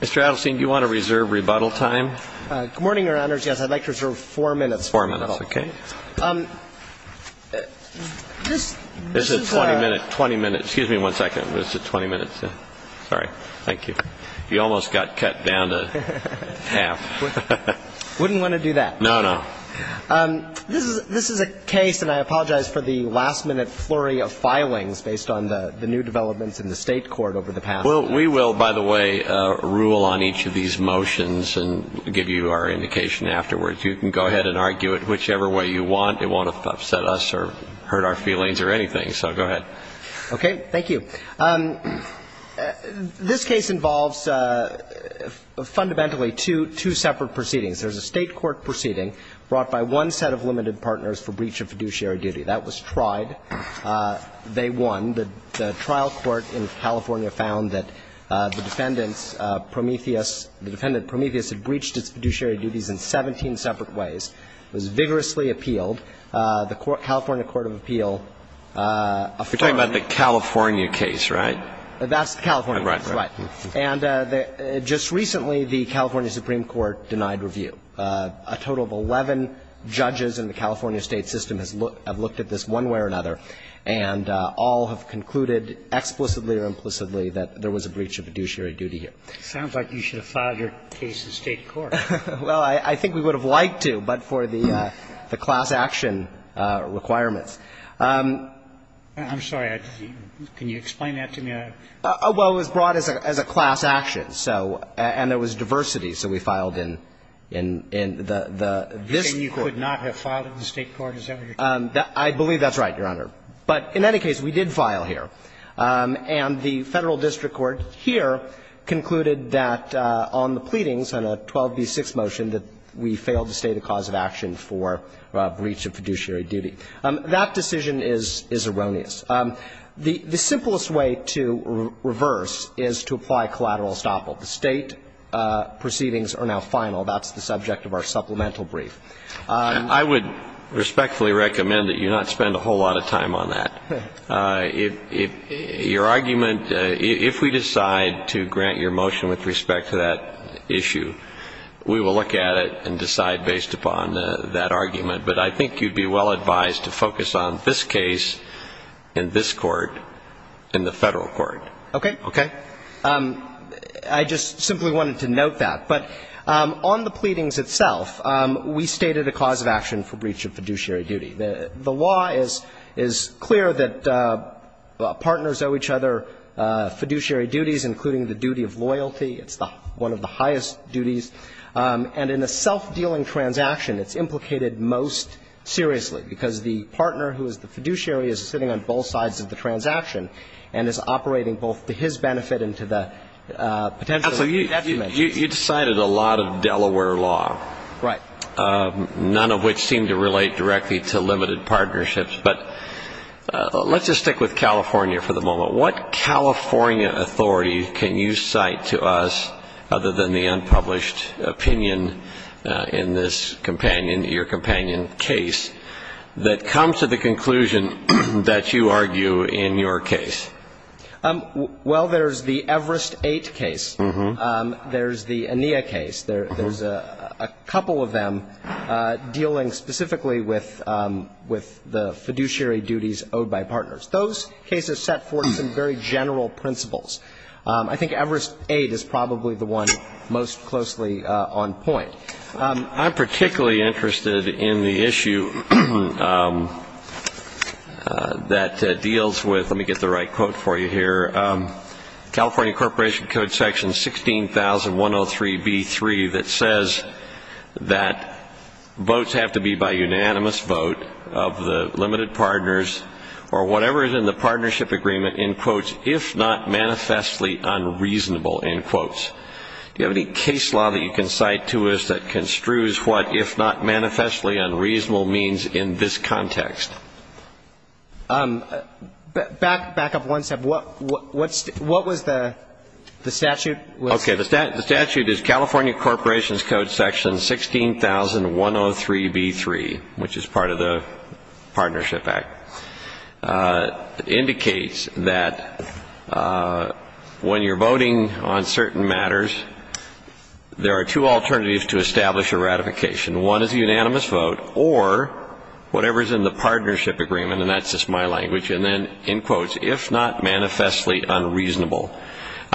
Mr. Adelstein, do you want to reserve rebuttal time? Good morning, Your Honors. Yes, I'd like to reserve four minutes for rebuttal. Four minutes, okay. This is a This is a 20-minute, 20-minute, excuse me one second, this is a 20-minute, sorry, thank you. You almost got cut down to half. Wouldn't want to do that. No, no. This is a case, and I apologize for the last-minute flurry of filings based on the new developments in the State Court over the past Well, we will, by the way, rule on each of these motions and give you our indication afterwards. You can go ahead and argue it whichever way you want. It won't upset us or hurt our feelings or anything, so go ahead. Okay, thank you. This case involves fundamentally two separate proceedings. There's a State Court proceeding brought by one set of limited partners for breach of fiduciary duty. That was tried. They won. The trial court in California found that the defendant Prometheus, the defendant Prometheus had breached its fiduciary duties in 17 separate ways. It was vigorously appealed. The California Court of Appeal You're talking about the California case, right? That's the California case, right. Right, right. And just recently, the California Supreme Court denied review. A total of 11 judges in the California State system have looked at this one way or another, and all have concluded explicitly or implicitly that there was a breach of fiduciary duty here. It sounds like you should have filed your case in the State Court. Well, I think we would have liked to, but for the class action requirements. I'm sorry. Can you explain that to me? Well, it was brought as a class action, so, and there was diversity. So we filed in the, this court. You could not have filed in the State Court? Is that what you're talking about? I believe that's right, Your Honor. But in any case, we did file here. And the Federal District Court here concluded that on the pleadings on a 12b-6 motion that we failed to state a cause of action for breach of fiduciary duty. That decision is erroneous. The simplest way to reverse is to apply collateral estoppel. The State proceedings are now final. That's the subject of our supplemental brief. I would respectfully recommend that you not spend a whole lot of time on that. Your argument, if we decide to grant your motion with respect to that issue, we will look at it and decide based upon that argument. But I think you'd be well advised to focus on this case in this court in the Federal Court. Okay. I just simply wanted to note that. But on the pleadings itself, we stated a cause of action for breach of fiduciary duty. The law is clear that partners owe each other fiduciary duties, including the duty of loyalty. It's one of the highest duties. And in a self-dealing transaction, it's implicated most seriously, because the partner who is the fiduciary is sitting on both sides of the transaction and is operating both to his benefit and to the potential of the other. So you decided a lot of Delaware law. Right. None of which seem to relate directly to limited partnerships. But let's just stick with California for the moment. What California authority can you cite to us, other than the unpublished opinion in this companion, your companion case, that comes to the conclusion that you argue in your case? Well, there's the Everest-8 case. There's the Anea case. There's a couple of them dealing specifically with the fiduciary duties owed by partners. Those cases set forth some very general principles. I think Everest-8 is probably the one most closely on point. I'm particularly interested in the issue that deals with, let me get the right quote for you here, California Corporation Code Section 16,103b3 that says that votes have to be by unanimous vote of the limited partners or whatever is in the partnership agreement, in quotes, if not manifestly unreasonable, in quotes. Do you have any case law that you can cite to us that construes what, if not manifestly unreasonable, means in this context? Back up one step. What was the statute? Okay. The statute is California Corporation Code Section 16,103b3, which is part of the Partnership Act. It indicates that when you're voting on certain matters, there are two alternatives to establish a ratification. One is a unanimous vote or whatever is in the partnership agreement, and that's just my language, and then, in quotes, if not manifestly unreasonable.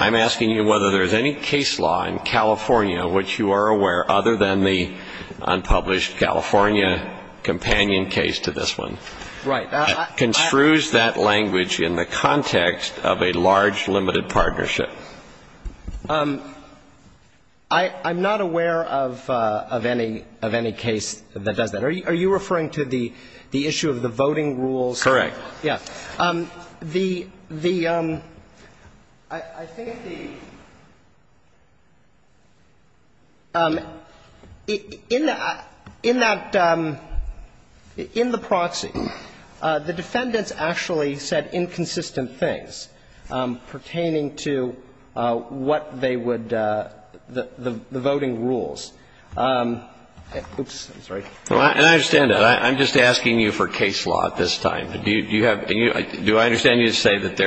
I'm asking you whether there's any case law in California which you are aware, other than the unpublished California companion case to this one. Right. That construes that language in the context of a large limited partnership. I'm not aware of any case that does that. Are you referring to the issue of the voting rules? Correct. Yeah. The — I think the — in that — in the proxy, the defendants actually said inconsistent things pertaining to what they would — the voting rules. Oops. I'm sorry. And I understand that. I'm just asking you for case law at this time. Do you have — do I understand you to say that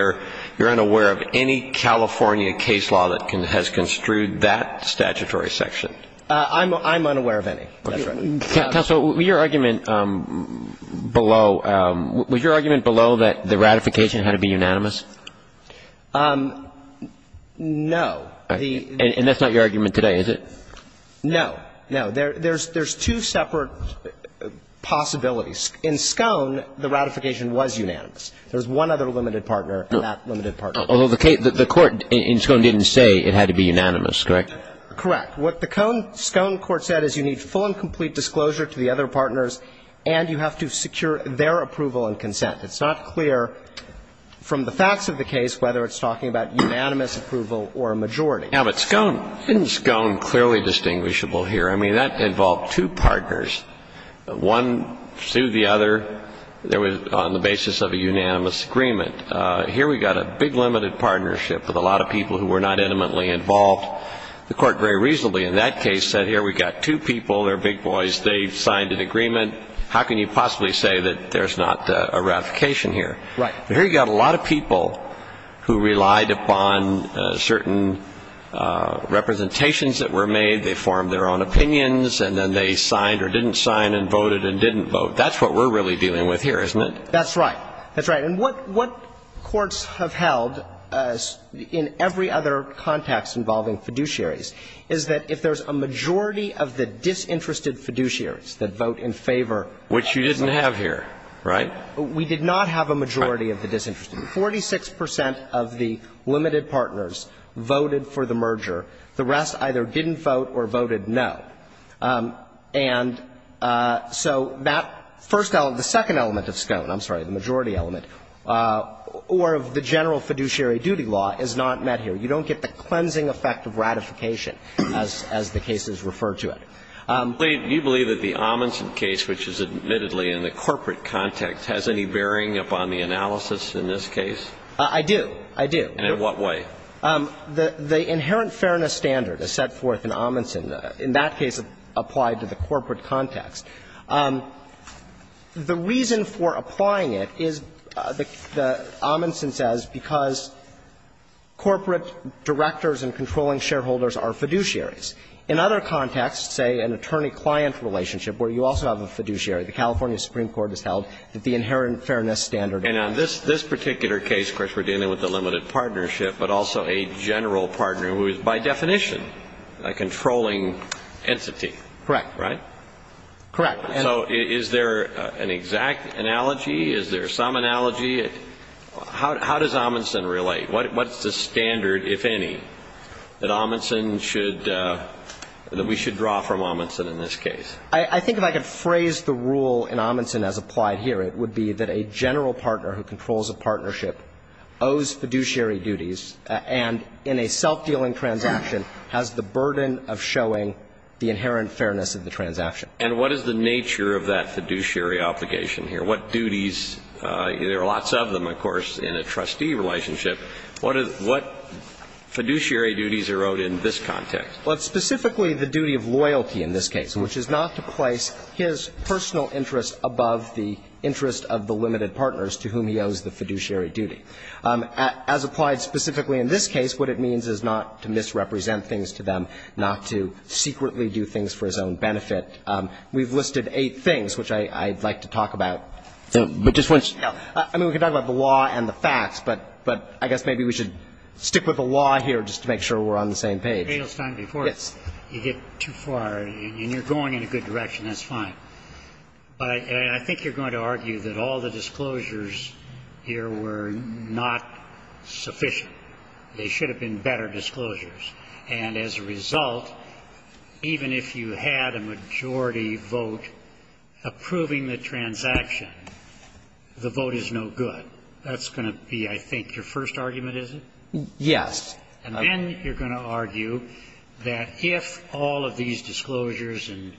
you're unaware of any California case law that has construed that statutory section? I'm unaware of any. Counsel, your argument below — was your argument below that the ratification had to be unanimous? No. And that's not your argument today, is it? No. No. There's two separate possibilities. In Scone, the ratification was unanimous. There was one other limited partner and that limited partner. Although the court in Scone didn't say it had to be unanimous, correct? Correct. What the Scone court said is you need full and complete disclosure to the other partners, and you have to secure their approval and consent. It's not clear from the facts of the case whether it's talking about unanimous approval or a majority. Now, but Scone — isn't Scone clearly distinguishable here? I mean, that involved two partners. One sued the other on the basis of a unanimous agreement. Here we've got a big limited partnership with a lot of people who were not intimately involved. The court very reasonably in that case said here we've got two people. They're big boys. They've signed an agreement. How can you possibly say that there's not a ratification here? Right. But here you've got a lot of people who relied upon certain representations that were made. They formed their own opinions, and then they signed or didn't sign and voted and didn't vote. That's what we're really dealing with here, isn't it? That's right. That's right. And what courts have held in every other context involving fiduciaries is that if there's a majority of the disinterested fiduciaries that vote in favor of the court — Which you didn't have here, right? We did not have a majority of the disinterested. Forty-six percent of the limited partners voted for the merger. The rest either didn't vote or voted no. And so that first element, the second element of Scone, I'm sorry, the majority element, or of the general fiduciary duty law is not met here. You don't get the cleansing effect of ratification as the cases refer to it. Do you believe that the Amundsen case, which is admittedly in the corporate context, has any bearing upon the analysis in this case? I do. I do. And in what way? The inherent fairness standard is set forth in Amundsen. In that case, it's applied to the corporate context. The reason for applying it is, Amundsen says, because corporate directors and controlling shareholders are fiduciaries. In other contexts, say an attorney-client relationship where you also have a fiduciary, the California Supreme Court has held that the inherent fairness standard applies. And on this particular case, of course, we're dealing with a limited partnership, but also a general partner who is, by definition, a controlling entity. Correct. Right? Correct. And so is there an exact analogy? Is there some analogy? How does Amundsen relate? What's the standard, if any, that Amundsen should, that we should draw from Amundsen in this case? I think if I could phrase the rule in Amundsen as applied here, it would be that a general partner who controls a partnership owes fiduciary duties and in a self-dealing transaction has the burden of showing the inherent fairness of the transaction. And what is the nature of that fiduciary obligation here? What duties? There are lots of them, of course, in a trustee relationship. What fiduciary duties are owed in this context? Well, it's specifically the duty of loyalty in this case, which is not to place his personal interest above the interest of the limited partners to whom he owes the fiduciary duty. As applied specifically in this case, what it means is not to misrepresent things to them, not to secretly do things for his own benefit. I think it's important to note that we've listed eight things, which I'd like to talk about. I mean, we could talk about the law and the facts, but I guess maybe we should stick with the law here just to make sure we're on the same page. But, Adelstein, before you get too far, and you're going in a good direction, that's fine. But I think you're going to argue that all the disclosures here were not sufficient. They should have been better disclosures. And as a result, even if you had a majority vote approving the transaction, the vote is no good. That's going to be, I think, your first argument, is it? Yes. And then you're going to argue that if all of these disclosures and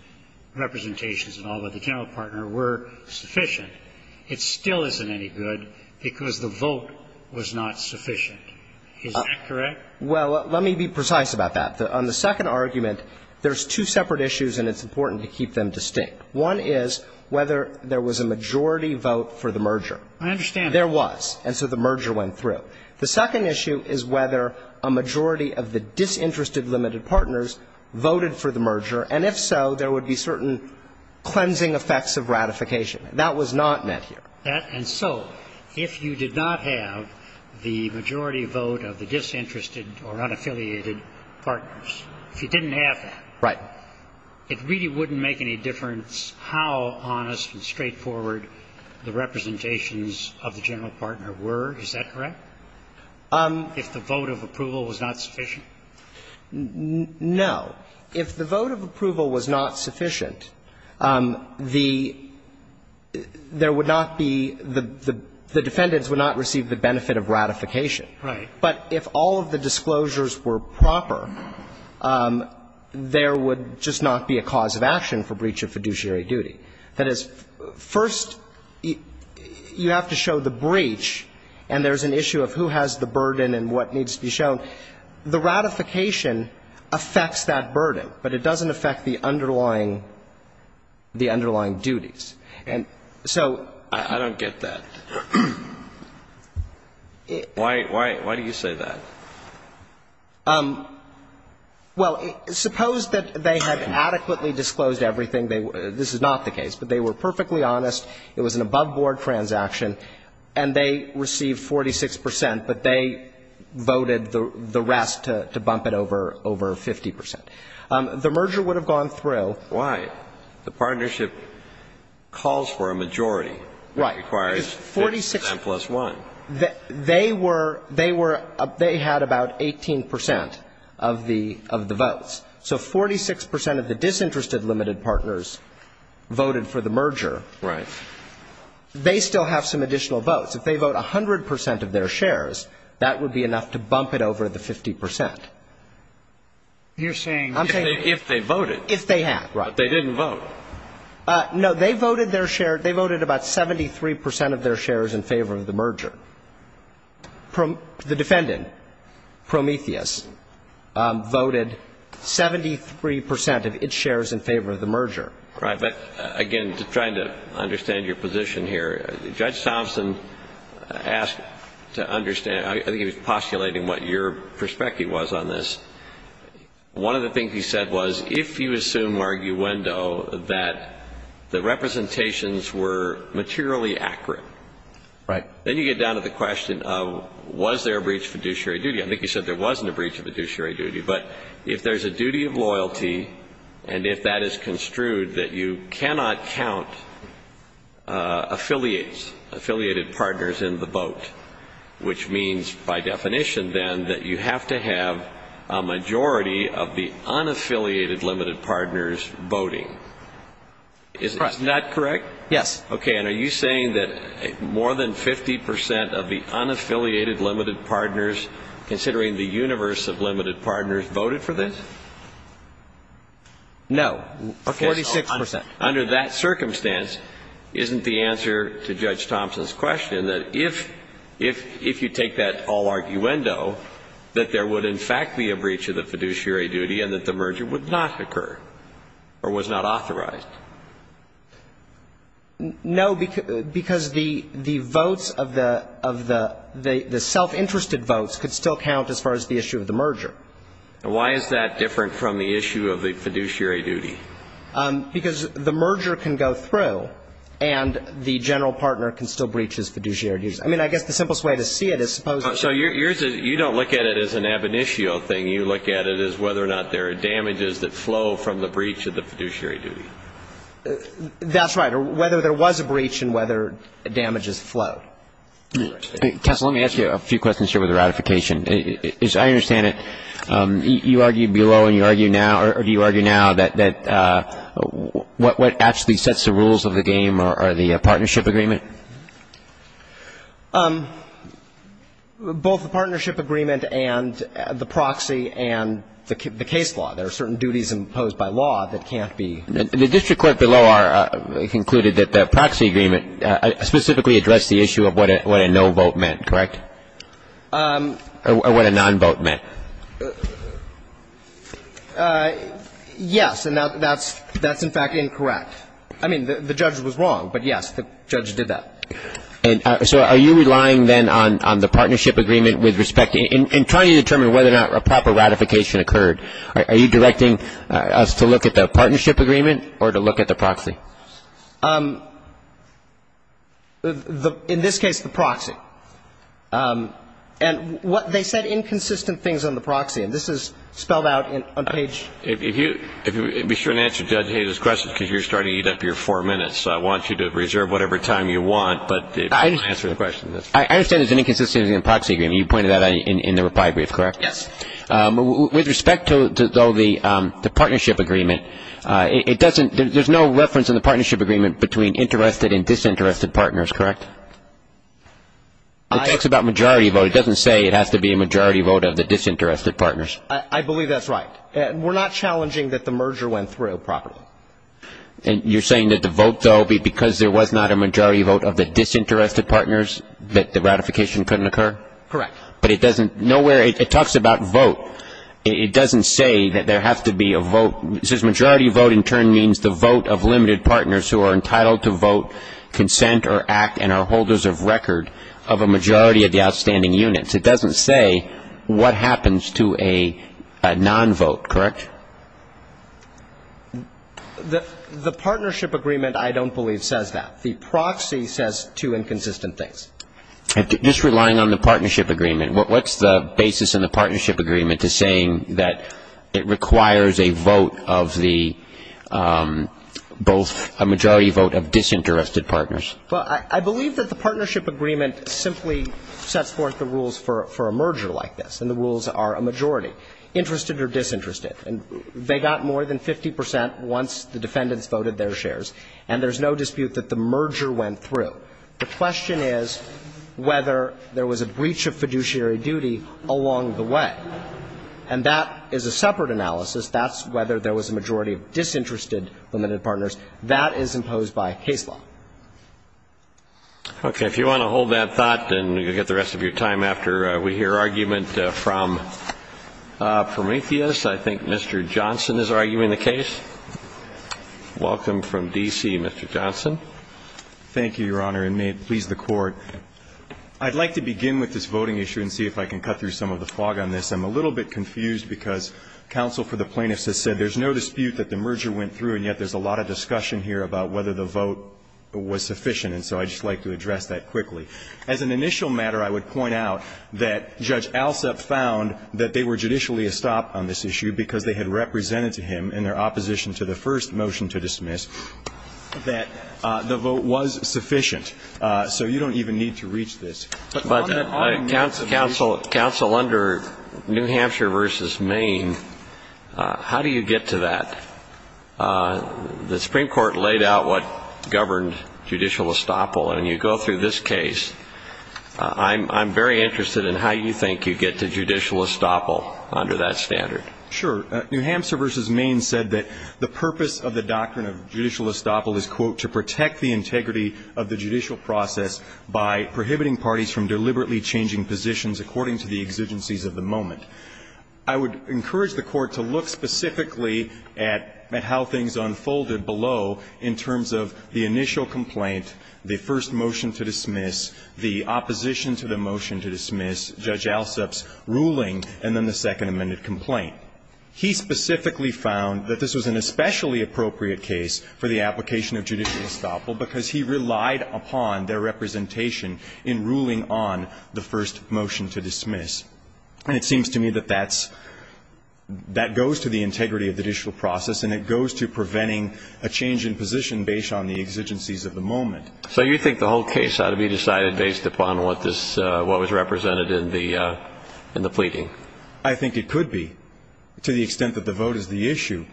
representations and all of the general partner were sufficient, it still isn't any good because the vote was not sufficient. Is that correct? Well, let me be precise about that. On the second argument, there's two separate issues, and it's important to keep them distinct. One is whether there was a majority vote for the merger. I understand that. There was. And so the merger went through. The second issue is whether a majority of the disinterested limited partners voted for the merger, and if so, there would be certain cleansing effects of ratification. That was not met here. And so if you did not have the majority vote of the disinterested or unaffiliated partners, if you didn't have that, it really wouldn't make any difference how honest and straightforward the representations of the general partner were. Is that correct? If the vote of approval was not sufficient? No. If the vote of approval was not sufficient, the – there would not be – the defendants would not receive the benefit of ratification. Right. But if all of the disclosures were proper, there would just not be a cause of action for breach of fiduciary duty. That is, first, you have to show the breach, and there's an issue of who has the burden and what needs to be shown. The ratification affects that burden, but it doesn't affect the underlying – the underlying duties. And so I don't get that. Why do you say that? Well, suppose that they had adequately disclosed everything. This is not the case, but they were perfectly honest. It was an above-board transaction, and they received 46 percent, but they voted the rest to bump it over 50 percent. The merger would have gone through. Why? The partnership calls for a majority. Right. It requires 6 percent plus 1. They were – they were – they had about 18 percent of the votes. So 46 percent of the disinterested limited partners voted for the merger. Right. They still have some additional votes. If they vote 100 percent of their shares, that would be enough to bump it over the 50 percent. You're saying – If they voted. If they had, right. But they didn't vote. No. They voted their share – they voted about 73 percent of their shares in favor of the merger. The defendant, Prometheus, voted 73 percent of its shares in favor of the merger. Right. But, again, trying to understand your position here, Judge Thompson asked to understand – I think he was postulating what your perspective was on this. One of the things he said was if you assume arguendo that the representations were materially accurate. Right. Then you get down to the question of was there a breach of fiduciary duty. I think he said there wasn't a breach of fiduciary duty. But if there's a duty of loyalty and if that is construed that you cannot count affiliates, affiliated partners in the vote, which means by definition then that you have to have a majority of the unaffiliated limited partners voting. Correct. Is that correct? Yes. Okay. And are you saying that more than 50 percent of the unaffiliated limited partners, considering the universe of limited partners, voted for this? No. 46 percent. Okay. So under that circumstance, isn't the answer to Judge Thompson's question that if you take that all arguendo, that there would in fact be a breach of the fiduciary duty and that the merger would not occur or was not authorized? No, because the votes of the self-interested votes could still count as far as the issue of the merger. Why is that different from the issue of the fiduciary duty? Because the merger can go through and the general partner can still breach his fiduciary duties. I mean, I guess the simplest way to see it is suppose. So you don't look at it as an ab initio thing. You look at it as whether or not there are damages that flow from the breach of the fiduciary duty. That's right, or whether there was a breach and whether damages flow. Tess, let me ask you a few questions here with the ratification. As I understand it, you argued below and you argue now, that what actually sets the rules of the game are the partnership agreement? Both the partnership agreement and the proxy and the case law. There are certain duties imposed by law that can't be. The district court below concluded that the proxy agreement specifically addressed the issue of what a no vote meant, correct? Or what a non-vote meant? Yes, and that's in fact incorrect. I mean, the judge was wrong, but yes, the judge did that. And so are you relying then on the partnership agreement with respect to, in trying to determine whether or not a proper ratification occurred, are you directing us to look at the partnership agreement or to look at the proxy? In this case, the proxy. And what they said, inconsistent things on the proxy. And this is spelled out on page. If you be sure to answer Judge Hayes' question, because you're starting to eat up your four minutes. I want you to reserve whatever time you want, but answer the question. I understand there's an inconsistency in the proxy agreement. You pointed that out in the reply brief, correct? Yes. With respect to, though, the partnership agreement, it doesn't – there's no reference in the partnership agreement between interested and disinterested partners, correct? It talks about majority vote. It doesn't say it has to be a majority vote of the disinterested partners. I believe that's right. We're not challenging that the merger went through properly. And you're saying that the vote, though, because there was not a majority vote of the disinterested partners, that the ratification couldn't occur? Correct. But it doesn't – nowhere – it talks about vote. It doesn't say that there has to be a vote. It says majority vote in turn means the vote of limited partners who are entitled to vote, consent or act, and are holders of record of a majority of the outstanding units. It doesn't say what happens to a non-vote, correct? The partnership agreement, I don't believe, says that. The proxy says two inconsistent things. Just relying on the partnership agreement, what's the basis in the partnership agreement to saying that it requires a vote of the both – Well, I believe that the partnership agreement simply sets forth the rules for a merger like this, and the rules are a majority, interested or disinterested. And they got more than 50 percent once the defendants voted their shares, and there's no dispute that the merger went through. The question is whether there was a breach of fiduciary duty along the way. And that is a separate analysis. That's whether there was a majority of disinterested limited partners. That is imposed by case law. Okay. If you want to hold that thought, then you'll get the rest of your time after we hear argument from Prometheus. I think Mr. Johnson is arguing the case. Welcome from D.C., Mr. Johnson. Thank you, Your Honor, and may it please the Court. I'd like to begin with this voting issue and see if I can cut through some of the fog on this. I'm a little bit confused because counsel for the plaintiffs has said there's no dispute that the merger went through, and yet there's a lot of discussion here about whether the vote was sufficient. And so I'd just like to address that quickly. As an initial matter, I would point out that Judge Alsup found that they were judicially estopped on this issue because they had represented to him in their opposition to the first motion to dismiss that the vote was sufficient. So you don't even need to reach this. But, counsel, under New Hampshire v. Maine, how do you get to that? The Supreme Court laid out what governed judicial estoppel, and you go through this case. I'm very interested in how you think you get to judicial estoppel under that standard. Sure. New Hampshire v. Maine said that the purpose of the doctrine of judicial estoppel is, quote, of the judicial process by prohibiting parties from deliberately changing positions according to the exigencies of the moment. I would encourage the Court to look specifically at how things unfolded below in terms of the initial complaint, the first motion to dismiss, the opposition to the motion to dismiss, Judge Alsup's ruling, and then the second amended complaint. He specifically found that this was an especially appropriate case for the application of judicial estoppel because he relied upon their representation in ruling on the first motion to dismiss. And it seems to me that that goes to the integrity of the judicial process, and it goes to preventing a change in position based on the exigencies of the moment. So you think the whole case ought to be decided based upon what was represented in the pleading? I think it could be, to the extent that the vote is the issue.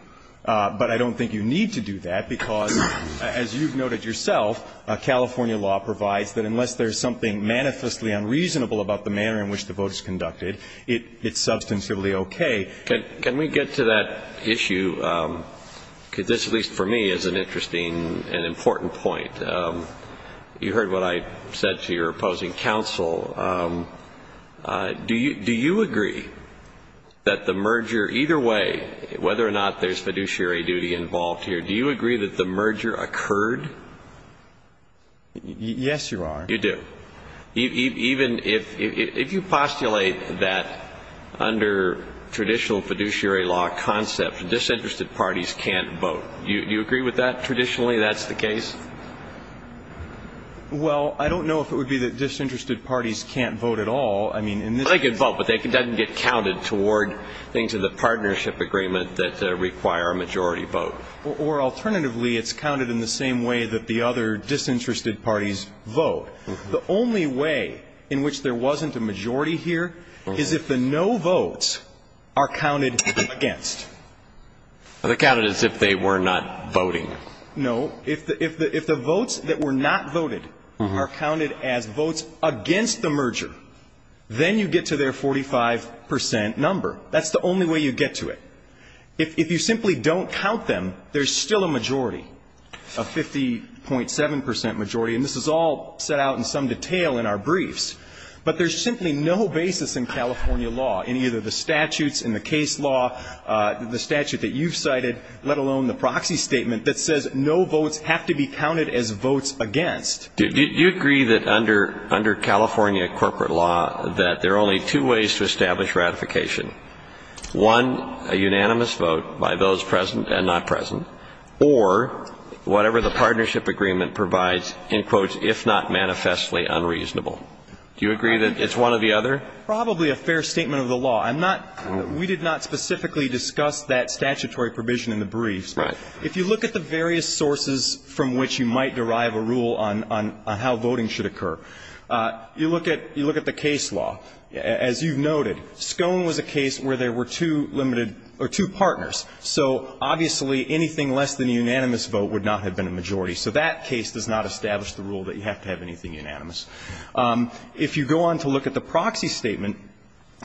But I don't think you need to do that because, as you've noted yourself, California law provides that unless there's something manifestly unreasonable about the manner in which the vote is conducted, it's substantively okay. Can we get to that issue? Because this, at least for me, is an interesting and important point. You heard what I said to your opposing counsel. Do you agree that the merger, either way, whether or not there's fiduciary duty involved here, do you agree that the merger occurred? Yes, you are. You do. Even if you postulate that under traditional fiduciary law concept, disinterested parties can't vote. Do you agree with that? Traditionally that's the case? Well, I don't know if it would be that disinterested parties can't vote at all. I mean, in this case. They can vote, but it doesn't get counted toward things in the partnership agreement that require a majority vote. Or alternatively, it's counted in the same way that the other disinterested parties vote. The only way in which there wasn't a majority here is if the no votes are counted against. They're counted as if they were not voting. No. If the votes that were not voted are counted as votes against the merger, then you get to their 45 percent number. That's the only way you get to it. If you simply don't count them, there's still a majority, a 50.7 percent majority. And this is all set out in some detail in our briefs. But there's simply no basis in California law, in either the statutes, in the case law, the statute that you've cited, let alone the proxy statement that says no votes have to be counted as votes against. Do you agree that under California corporate law that there are only two ways to establish ratification? One, a unanimous vote by those present and not present, or whatever the partnership agreement provides, in quotes, if not manifestly unreasonable. Do you agree that it's one or the other? Probably a fair statement of the law. I'm not we did not specifically discuss that statutory provision in the briefs. If you look at the various sources from which you might derive a rule on how voting should occur, you look at the case law. As you've noted, Scone was a case where there were two limited or two partners. So obviously anything less than a unanimous vote would not have been a majority. So that case does not establish the rule that you have to have anything unanimous. If you go on to look at the proxy statement,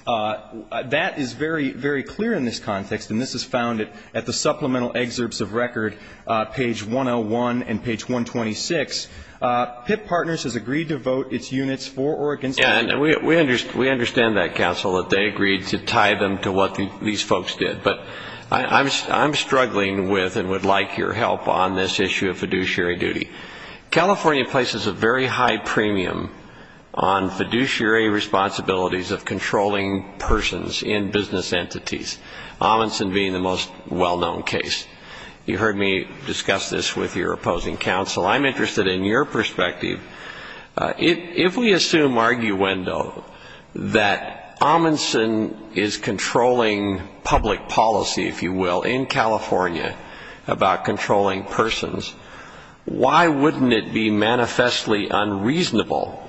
that is very, very clear in this context, and this is found at the supplemental excerpts of record, page 101 and page 126. PIP partners has agreed to vote its units for or against. And we understand that, counsel, that they agreed to tie them to what these folks did. But I'm struggling with and would like your help on this issue of fiduciary duty. California places a very high premium on fiduciary responsibilities of controlling persons in business entities, Amundsen being the most well-known case. You heard me discuss this with your opposing counsel. I'm interested in your perspective. If we assume arguendo that Amundsen is controlling public policy, if you will, in California about controlling persons, why wouldn't it be manifestly unreasonable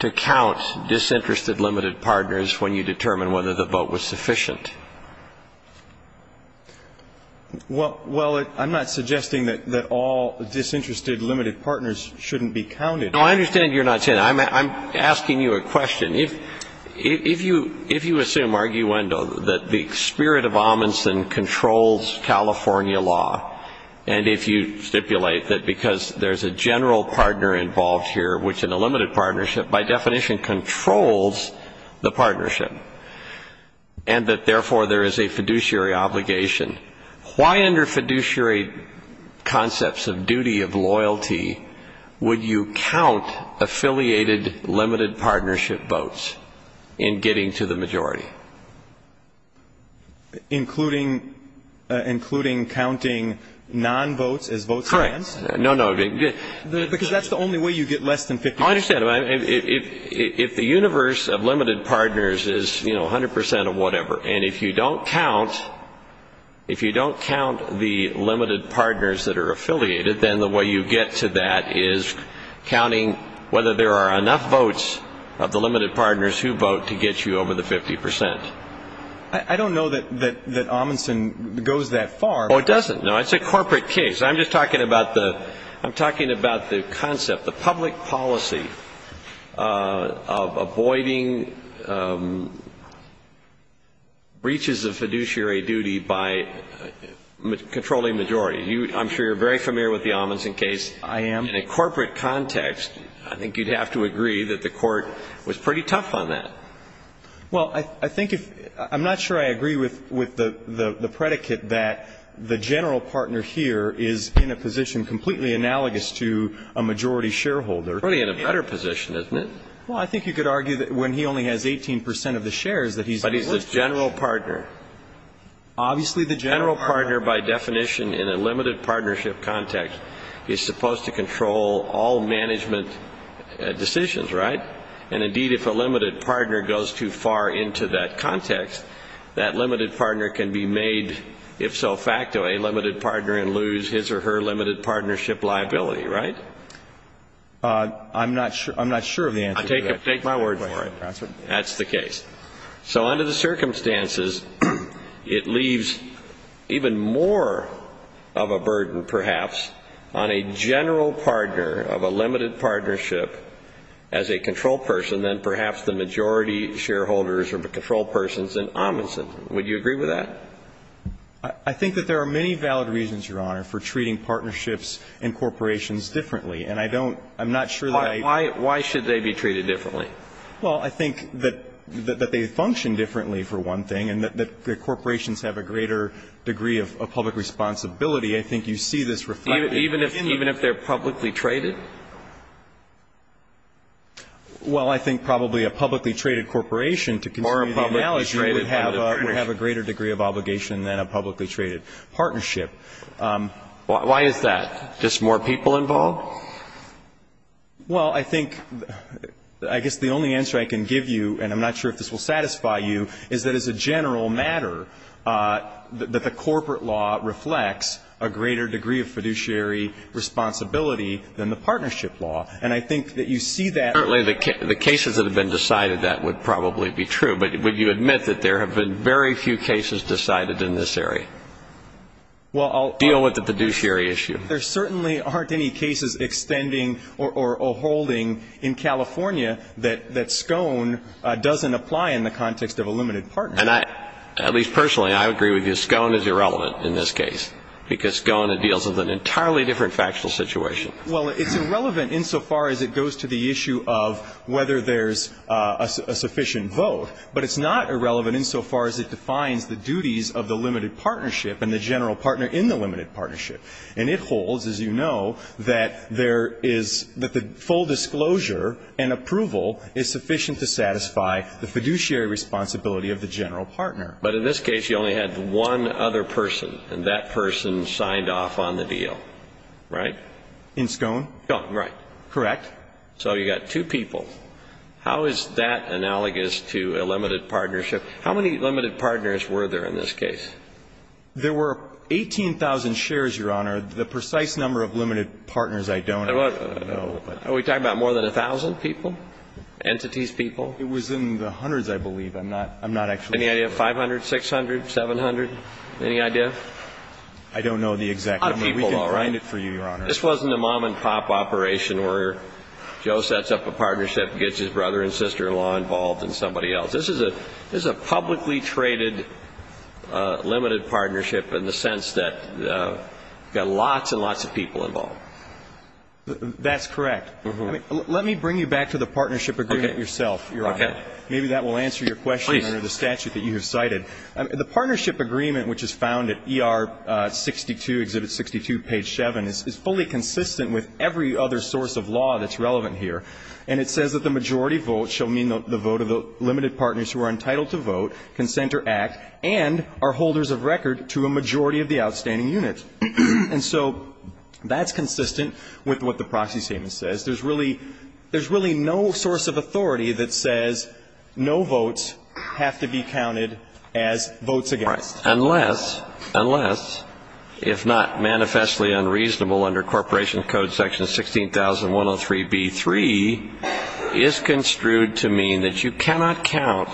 to count disinterested limited partners when you determine whether the vote was sufficient? Well, I'm not suggesting that all disinterested limited partners shouldn't be counted. No, I understand you're not saying that. I'm asking you a question. If you assume arguendo that the spirit of Amundsen controls California law and if you stipulate that because there's a general partner involved here, which in a limited partnership by definition controls the partnership, and that therefore there is a fiduciary obligation, why under fiduciary concepts of duty of loyalty would you count affiliated limited partnership votes in getting to the majority? Including counting non-votes as votes? Correct. No, no. Because that's the only way you get less than 50%. I understand. If the universe of limited partners is, you know, 100% of whatever, and if you don't count the limited partners that are affiliated, then the way you get to that is counting whether there are enough votes of the limited partners who vote to get you over the 50%. I don't know that Amundsen goes that far. Oh, it doesn't. No, it's a corporate case. I'm just talking about the concept, the public policy of avoiding breaches of fiduciary duty by controlling majority. I'm sure you're very familiar with the Amundsen case. I am. In a corporate context, I think you'd have to agree that the Court was pretty tough on that. Well, I think if ‑‑ I'm not sure I agree with the predicate that the general partner here is in a position completely analogous to a majority shareholder. He's probably in a better position, isn't he? Well, I think you could argue that when he only has 18% of the shares that he's ‑‑ But he's the general partner. Obviously, the general partner, by definition, in a limited partnership context, is supposed to control all management decisions, right? And, indeed, if a limited partner goes too far into that context, that limited partner can be made, if so facto, a limited partner and lose his or her limited partnership liability, right? I'm not sure of the answer to that. Take my word for it. That's the case. So under the circumstances, it leaves even more of a burden, perhaps, on a general partner of a limited partnership as a control person than perhaps the majority shareholders or the control persons in Amundsen. Would you agree with that? I think that there are many valid reasons, Your Honor, for treating partnerships and corporations differently. And I don't ‑‑ I'm not sure that I ‑‑ Why should they be treated differently? Well, I think that they function differently, for one thing, and that the corporations have a greater degree of public responsibility. I think you see this reflected in the ‑‑ Even if they're publicly traded? Well, I think probably a publicly traded corporation, to continue the analogy, would have a greater degree of obligation than a publicly traded partnership. Why is that? Just more people involved? Well, I think ‑‑ I guess the only answer I can give you, and I'm not sure if this will satisfy you, is that as a general matter that the corporate law reflects a greater degree of fiduciary responsibility than the partnership law. And I think that you see that. Certainly, the cases that have been decided, that would probably be true. But would you admit that there have been very few cases decided in this area? Well, I'll ‑‑ Deal with the fiduciary issue. There certainly aren't any cases extending or holding in California that SCOAN doesn't apply in the context of a limited partnership. And I, at least personally, I agree with you. SCOAN is irrelevant in this case, because SCOAN deals with an entirely different factual situation. Well, it's irrelevant insofar as it goes to the issue of whether there's a sufficient vote. But it's not irrelevant insofar as it defines the duties of the limited partnership and the general partner in the limited partnership. And it holds, as you know, that there is ‑‑ that the full disclosure and approval is sufficient to satisfy the fiduciary responsibility of the general partner. But in this case, you only had one other person, and that person signed off on the deal, right? In SCOAN? SCOAN, right. Correct. So you got two people. How is that analogous to a limited partnership? How many limited partners were there in this case? There were 18,000 shares, Your Honor. The precise number of limited partners I don't know. Are we talking about more than 1,000 people, entities, people? It was in the hundreds, I believe. I'm not actually sure. Any idea? 500, 600, 700? Any idea? I don't know the exact number. We can find it for you, Your Honor. This wasn't a mom and pop operation where Joe sets up a partnership, gets his brother and sister-in-law involved, and somebody else. This is a publicly traded limited partnership in the sense that you've got lots and lots of people involved. That's correct. Let me bring you back to the partnership agreement yourself, Your Honor. Maybe that will answer your question under the statute that you have cited. The partnership agreement, which is found at ER 62, Exhibit 62, Page 7, is fully consistent with every other source of law that's relevant here. And it says that the majority vote shall mean the vote of the limited partners who are entitled to vote, consent or act, and are holders of record to a majority of the outstanding units. And so that's consistent with what the proxy statement says. There's really no source of authority that says no votes have to be counted as votes against. Unless, unless, if not manifestly unreasonable under Corporation Code Section 16103b3, is construed to mean that you cannot count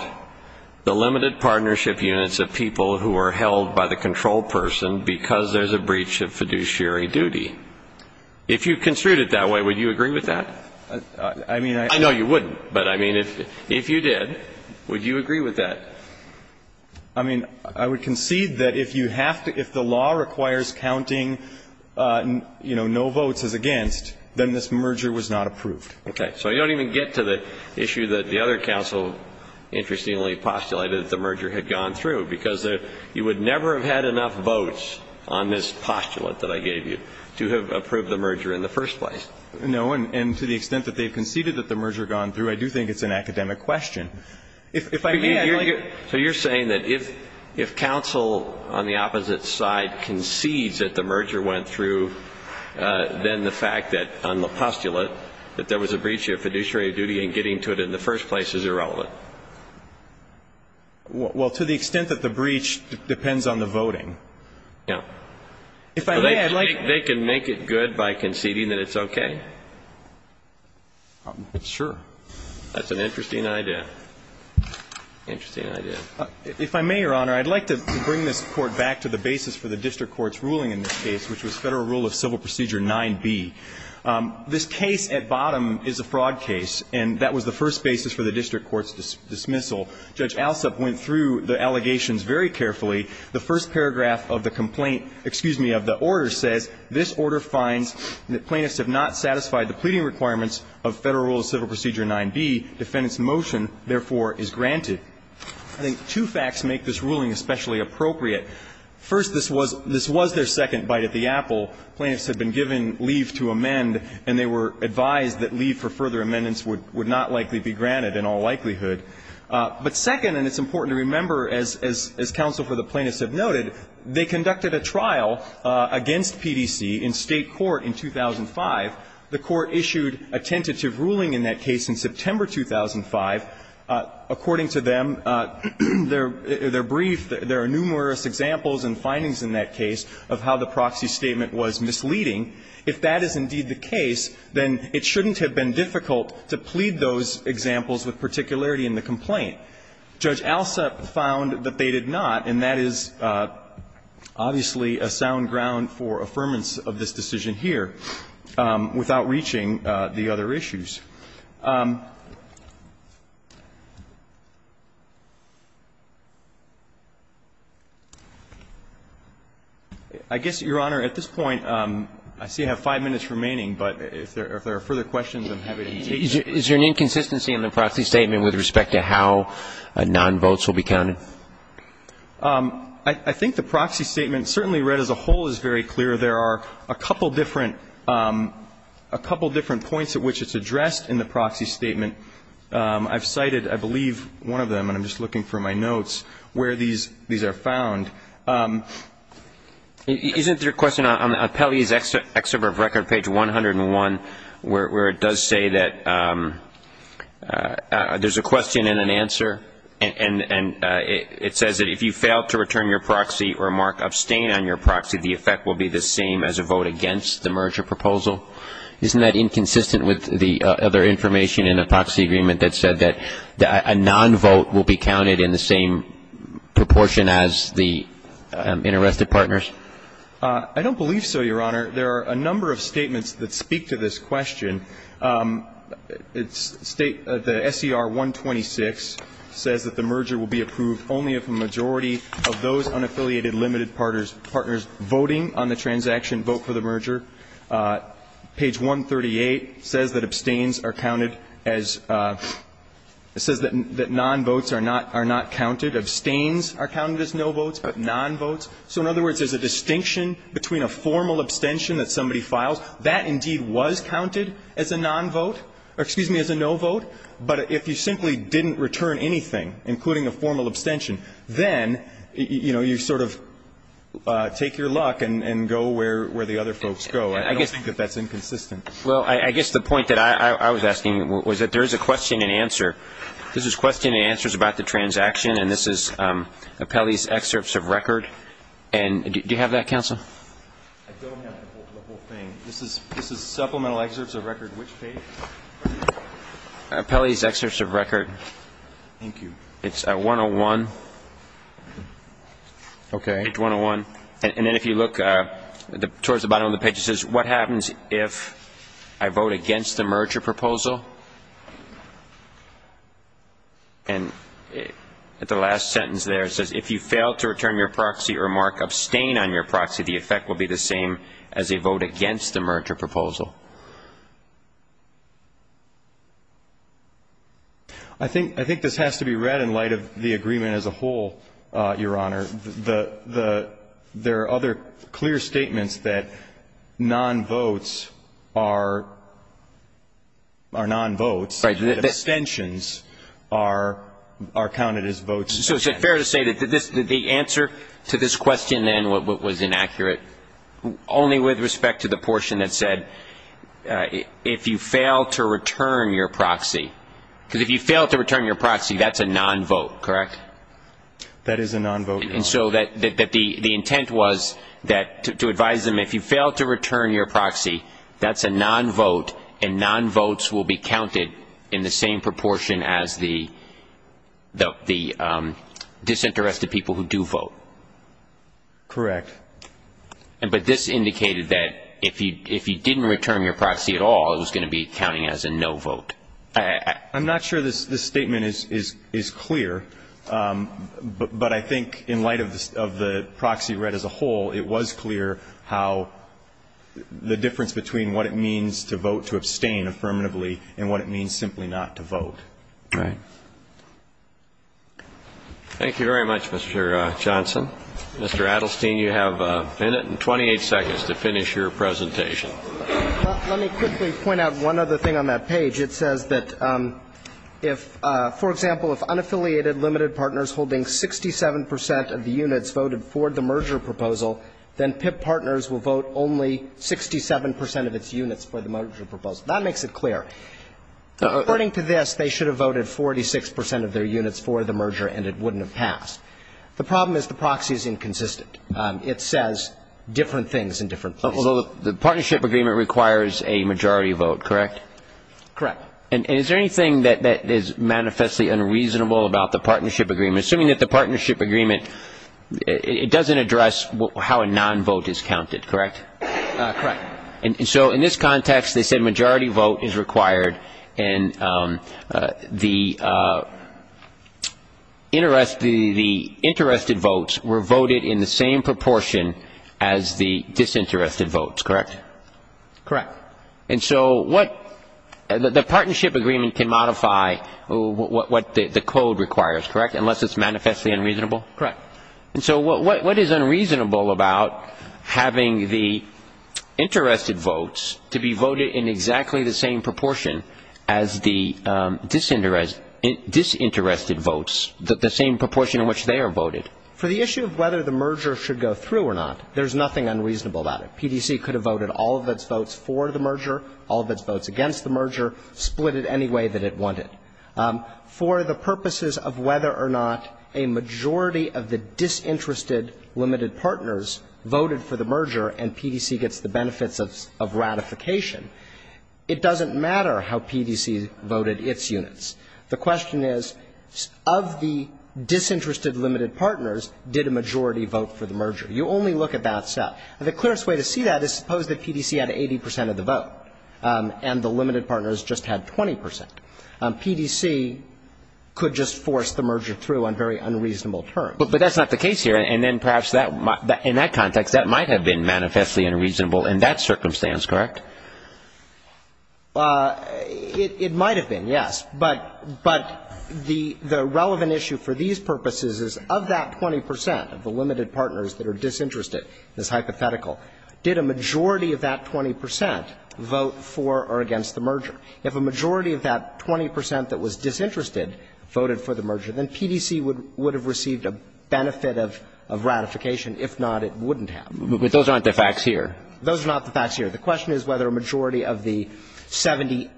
the limited partnership units of people who are held by the control person because there's a breach of fiduciary duty. If you construed it that way, would you agree with that? I mean, I don't know. I know you wouldn't, but I mean, if you did, would you agree with that? I mean, I would concede that if you have to, if the law requires counting, you know, no votes as against, then this merger was not approved. Okay. So you don't even get to the issue that the other counsel interestingly postulated that the merger had gone through, because you would never have had enough votes on this postulate that I gave you to have approved the merger in the first place. No. And to the extent that they've conceded that the merger had gone through, I do think it's an academic question. If I may, I'd like to. So you're saying that if counsel on the opposite side concedes that the merger went through, then the fact that on the postulate that there was a breach of fiduciary duty and getting to it in the first place is irrelevant? Well, to the extent that the breach depends on the voting. Yeah. If I may, I'd like to. They can make it good by conceding that it's okay? Sure. That's an interesting idea. Interesting idea. If I may, Your Honor, I'd like to bring this Court back to the basis for the district court's ruling in this case, which was Federal Rule of Civil Procedure 9b. This case at bottom is a fraud case, and that was the first basis for the district court's dismissal. Judge Alsup went through the allegations very carefully. The first paragraph of the complaint, excuse me, of the order says, This order finds that plaintiffs have not satisfied the pleading requirements of Federal Rule of Civil Procedure 9b. Defendant's motion, therefore, is granted. I think two facts make this ruling especially appropriate. First, this was their second bite at the apple. Plaintiffs had been given leave to amend, and they were advised that leave for further amendments would not likely be granted in all likelihood. But second, and it's important to remember, as counsel for the plaintiffs have noted, they conducted a trial against PDC in State court in 2005. The Court issued a tentative ruling in that case in September 2005. According to them, their brief, there are numerous examples and findings in that case of how the proxy statement was misleading. If that is indeed the case, then it shouldn't have been difficult to plead those examples with particularity in the complaint. Judge Alsep found that they did not, and that is obviously a sound ground for affirmance of this decision here without reaching the other issues. I guess, Your Honor, at this point, I see I have five minutes remaining. But if there are further questions, I'm happy to take them. Is there an inconsistency in the proxy statement with respect to how nonvotes will be counted? I think the proxy statement certainly read as a whole is very clear. There are a couple different points at which it's addressed in the proxy statement. I've cited, I believe, one of them, and I'm just looking for my notes, where these are found. Isn't there a question on Appellee's Excerpt of Record, page 101, where it does say that there's a question and an answer, and it says that if you fail to return your proxy or mark abstain on your proxy, the effect will be the same as a vote against the merger proposal? Isn't that inconsistent with the other information in the proxy agreement that said that a nonvote will be counted in the same proportion as the unarrested partners? I don't believe so, Your Honor. There are a number of statements that speak to this question. The SCR-126 says that the merger will be approved only if a majority of those unaffiliated limited partners voting on the transaction vote for the merger. Page 138 says that abstains are counted as – it says that nonvotes are not counted. Abstains are counted as novotes, but nonvotes – so in other words, there's a distinction between a formal abstention that somebody files. That indeed was counted as a nonvote – or, excuse me, as a novote. But if you simply didn't return anything, including a formal abstention, then, you know, you sort of take your luck and go where the other folks go. I don't think that that's inconsistent. Well, I guess the point that I was asking was that there is a question and answer. This is question and answers about the transaction, and this is Appellee's Excerpts of Record. And do you have that, Counsel? I don't have the whole thing. This is Supplemental Excerpts of Record, which page? Appellee's Excerpts of Record. Thank you. It's 101. Okay. Page 101. And then if you look towards the bottom of the page, it says, What happens if I vote against the merger proposal? And at the last sentence there, it says, If you fail to return your proxy or mark abstain on your proxy, the effect will be the same as a vote against the merger proposal. I think this has to be read in light of the agreement as a whole, Your Honor. There are other clear statements that non-votes are non-votes, that abstentions are counted as votes. So is it fair to say that the answer to this question, then, was inaccurate, only with respect to the portion that said, If you fail to return your proxy? Because if you fail to return your proxy, that's a non-vote, correct? That is a non-vote, Your Honor. And so the intent was to advise them, If you fail to return your proxy, that's a non-vote, and non-votes will be counted in the same proportion as the disinterested people who do vote. Correct. But this indicated that if you didn't return your proxy at all, it was going to be counting as a no vote. I'm not sure this statement is clear, but I think in light of the proxy read as a whole, it was clear how the difference between what it means to vote to abstain affirmatively and what it means simply not to vote. Right. Thank you very much, Mr. Johnson. Mr. Adelstein, you have a minute and 28 seconds to finish your presentation. Let me quickly point out one other thing on that page. It says that if, for example, if unaffiliated limited partners holding 67 percent of the units voted for the merger proposal, then PIP partners will vote only 67 percent of its units for the merger proposal. That makes it clear. According to this, they should have voted 46 percent of their units for the merger, and it wouldn't have passed. The problem is the proxy is inconsistent. It says different things in different places. Although the partnership agreement requires a majority vote, correct? Correct. And is there anything that is manifestly unreasonable about the partnership agreement? Assuming that the partnership agreement, it doesn't address how a non-vote is counted, correct? Correct. And so in this context, they said majority vote is required, and the interested votes were voted in the same proportion as the disinterested votes, correct? Correct. And so what the partnership agreement can modify what the code requires, correct, unless it's manifestly unreasonable? Correct. And so what is unreasonable about having the interested votes to be voted in exactly the same proportion as the disinterested votes, the same proportion in which they are voted? For the issue of whether the merger should go through or not, there's nothing unreasonable about it. PDC could have voted all of its votes for the merger, all of its votes against the merger, split it any way that it wanted. For the purposes of whether or not a majority of the disinterested limited partners voted for the merger and PDC gets the benefits of ratification, it doesn't matter how PDC voted its units. The question is, of the disinterested limited partners, did a majority vote for the merger? You only look at that stuff. And the clearest way to see that is suppose that PDC had 80 percent of the vote and the limited partners just had 20 percent. PDC could just force the merger through on very unreasonable terms. But that's not the case here. And then perhaps in that context, that might have been manifestly unreasonable in that circumstance, correct? It might have been, yes. But the relevant issue for these purposes is of that 20 percent of the limited partners that are disinterested, this hypothetical, did a majority of that 20 percent vote for or against the merger? If a majority of that 20 percent that was disinterested voted for the merger, then PDC would have received a benefit of ratification. If not, it wouldn't have. But those aren't the facts here. Those are not the facts here. The question is whether a majority of the 70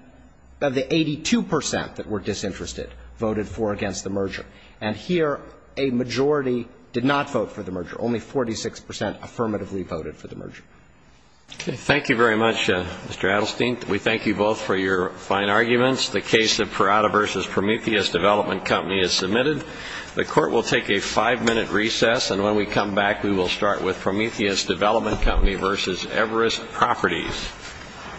of the 82 percent that were disinterested voted for or against the merger. And here, a majority did not vote for the merger. Only 46 percent affirmatively voted for the merger. Thank you very much, Mr. Adelstein. We thank you both for your fine arguments. The case of Parada v. Prometheus Development Company is submitted. The court will take a five-minute recess, and when we come back, we will start with Prometheus Development Company v. Everest Properties.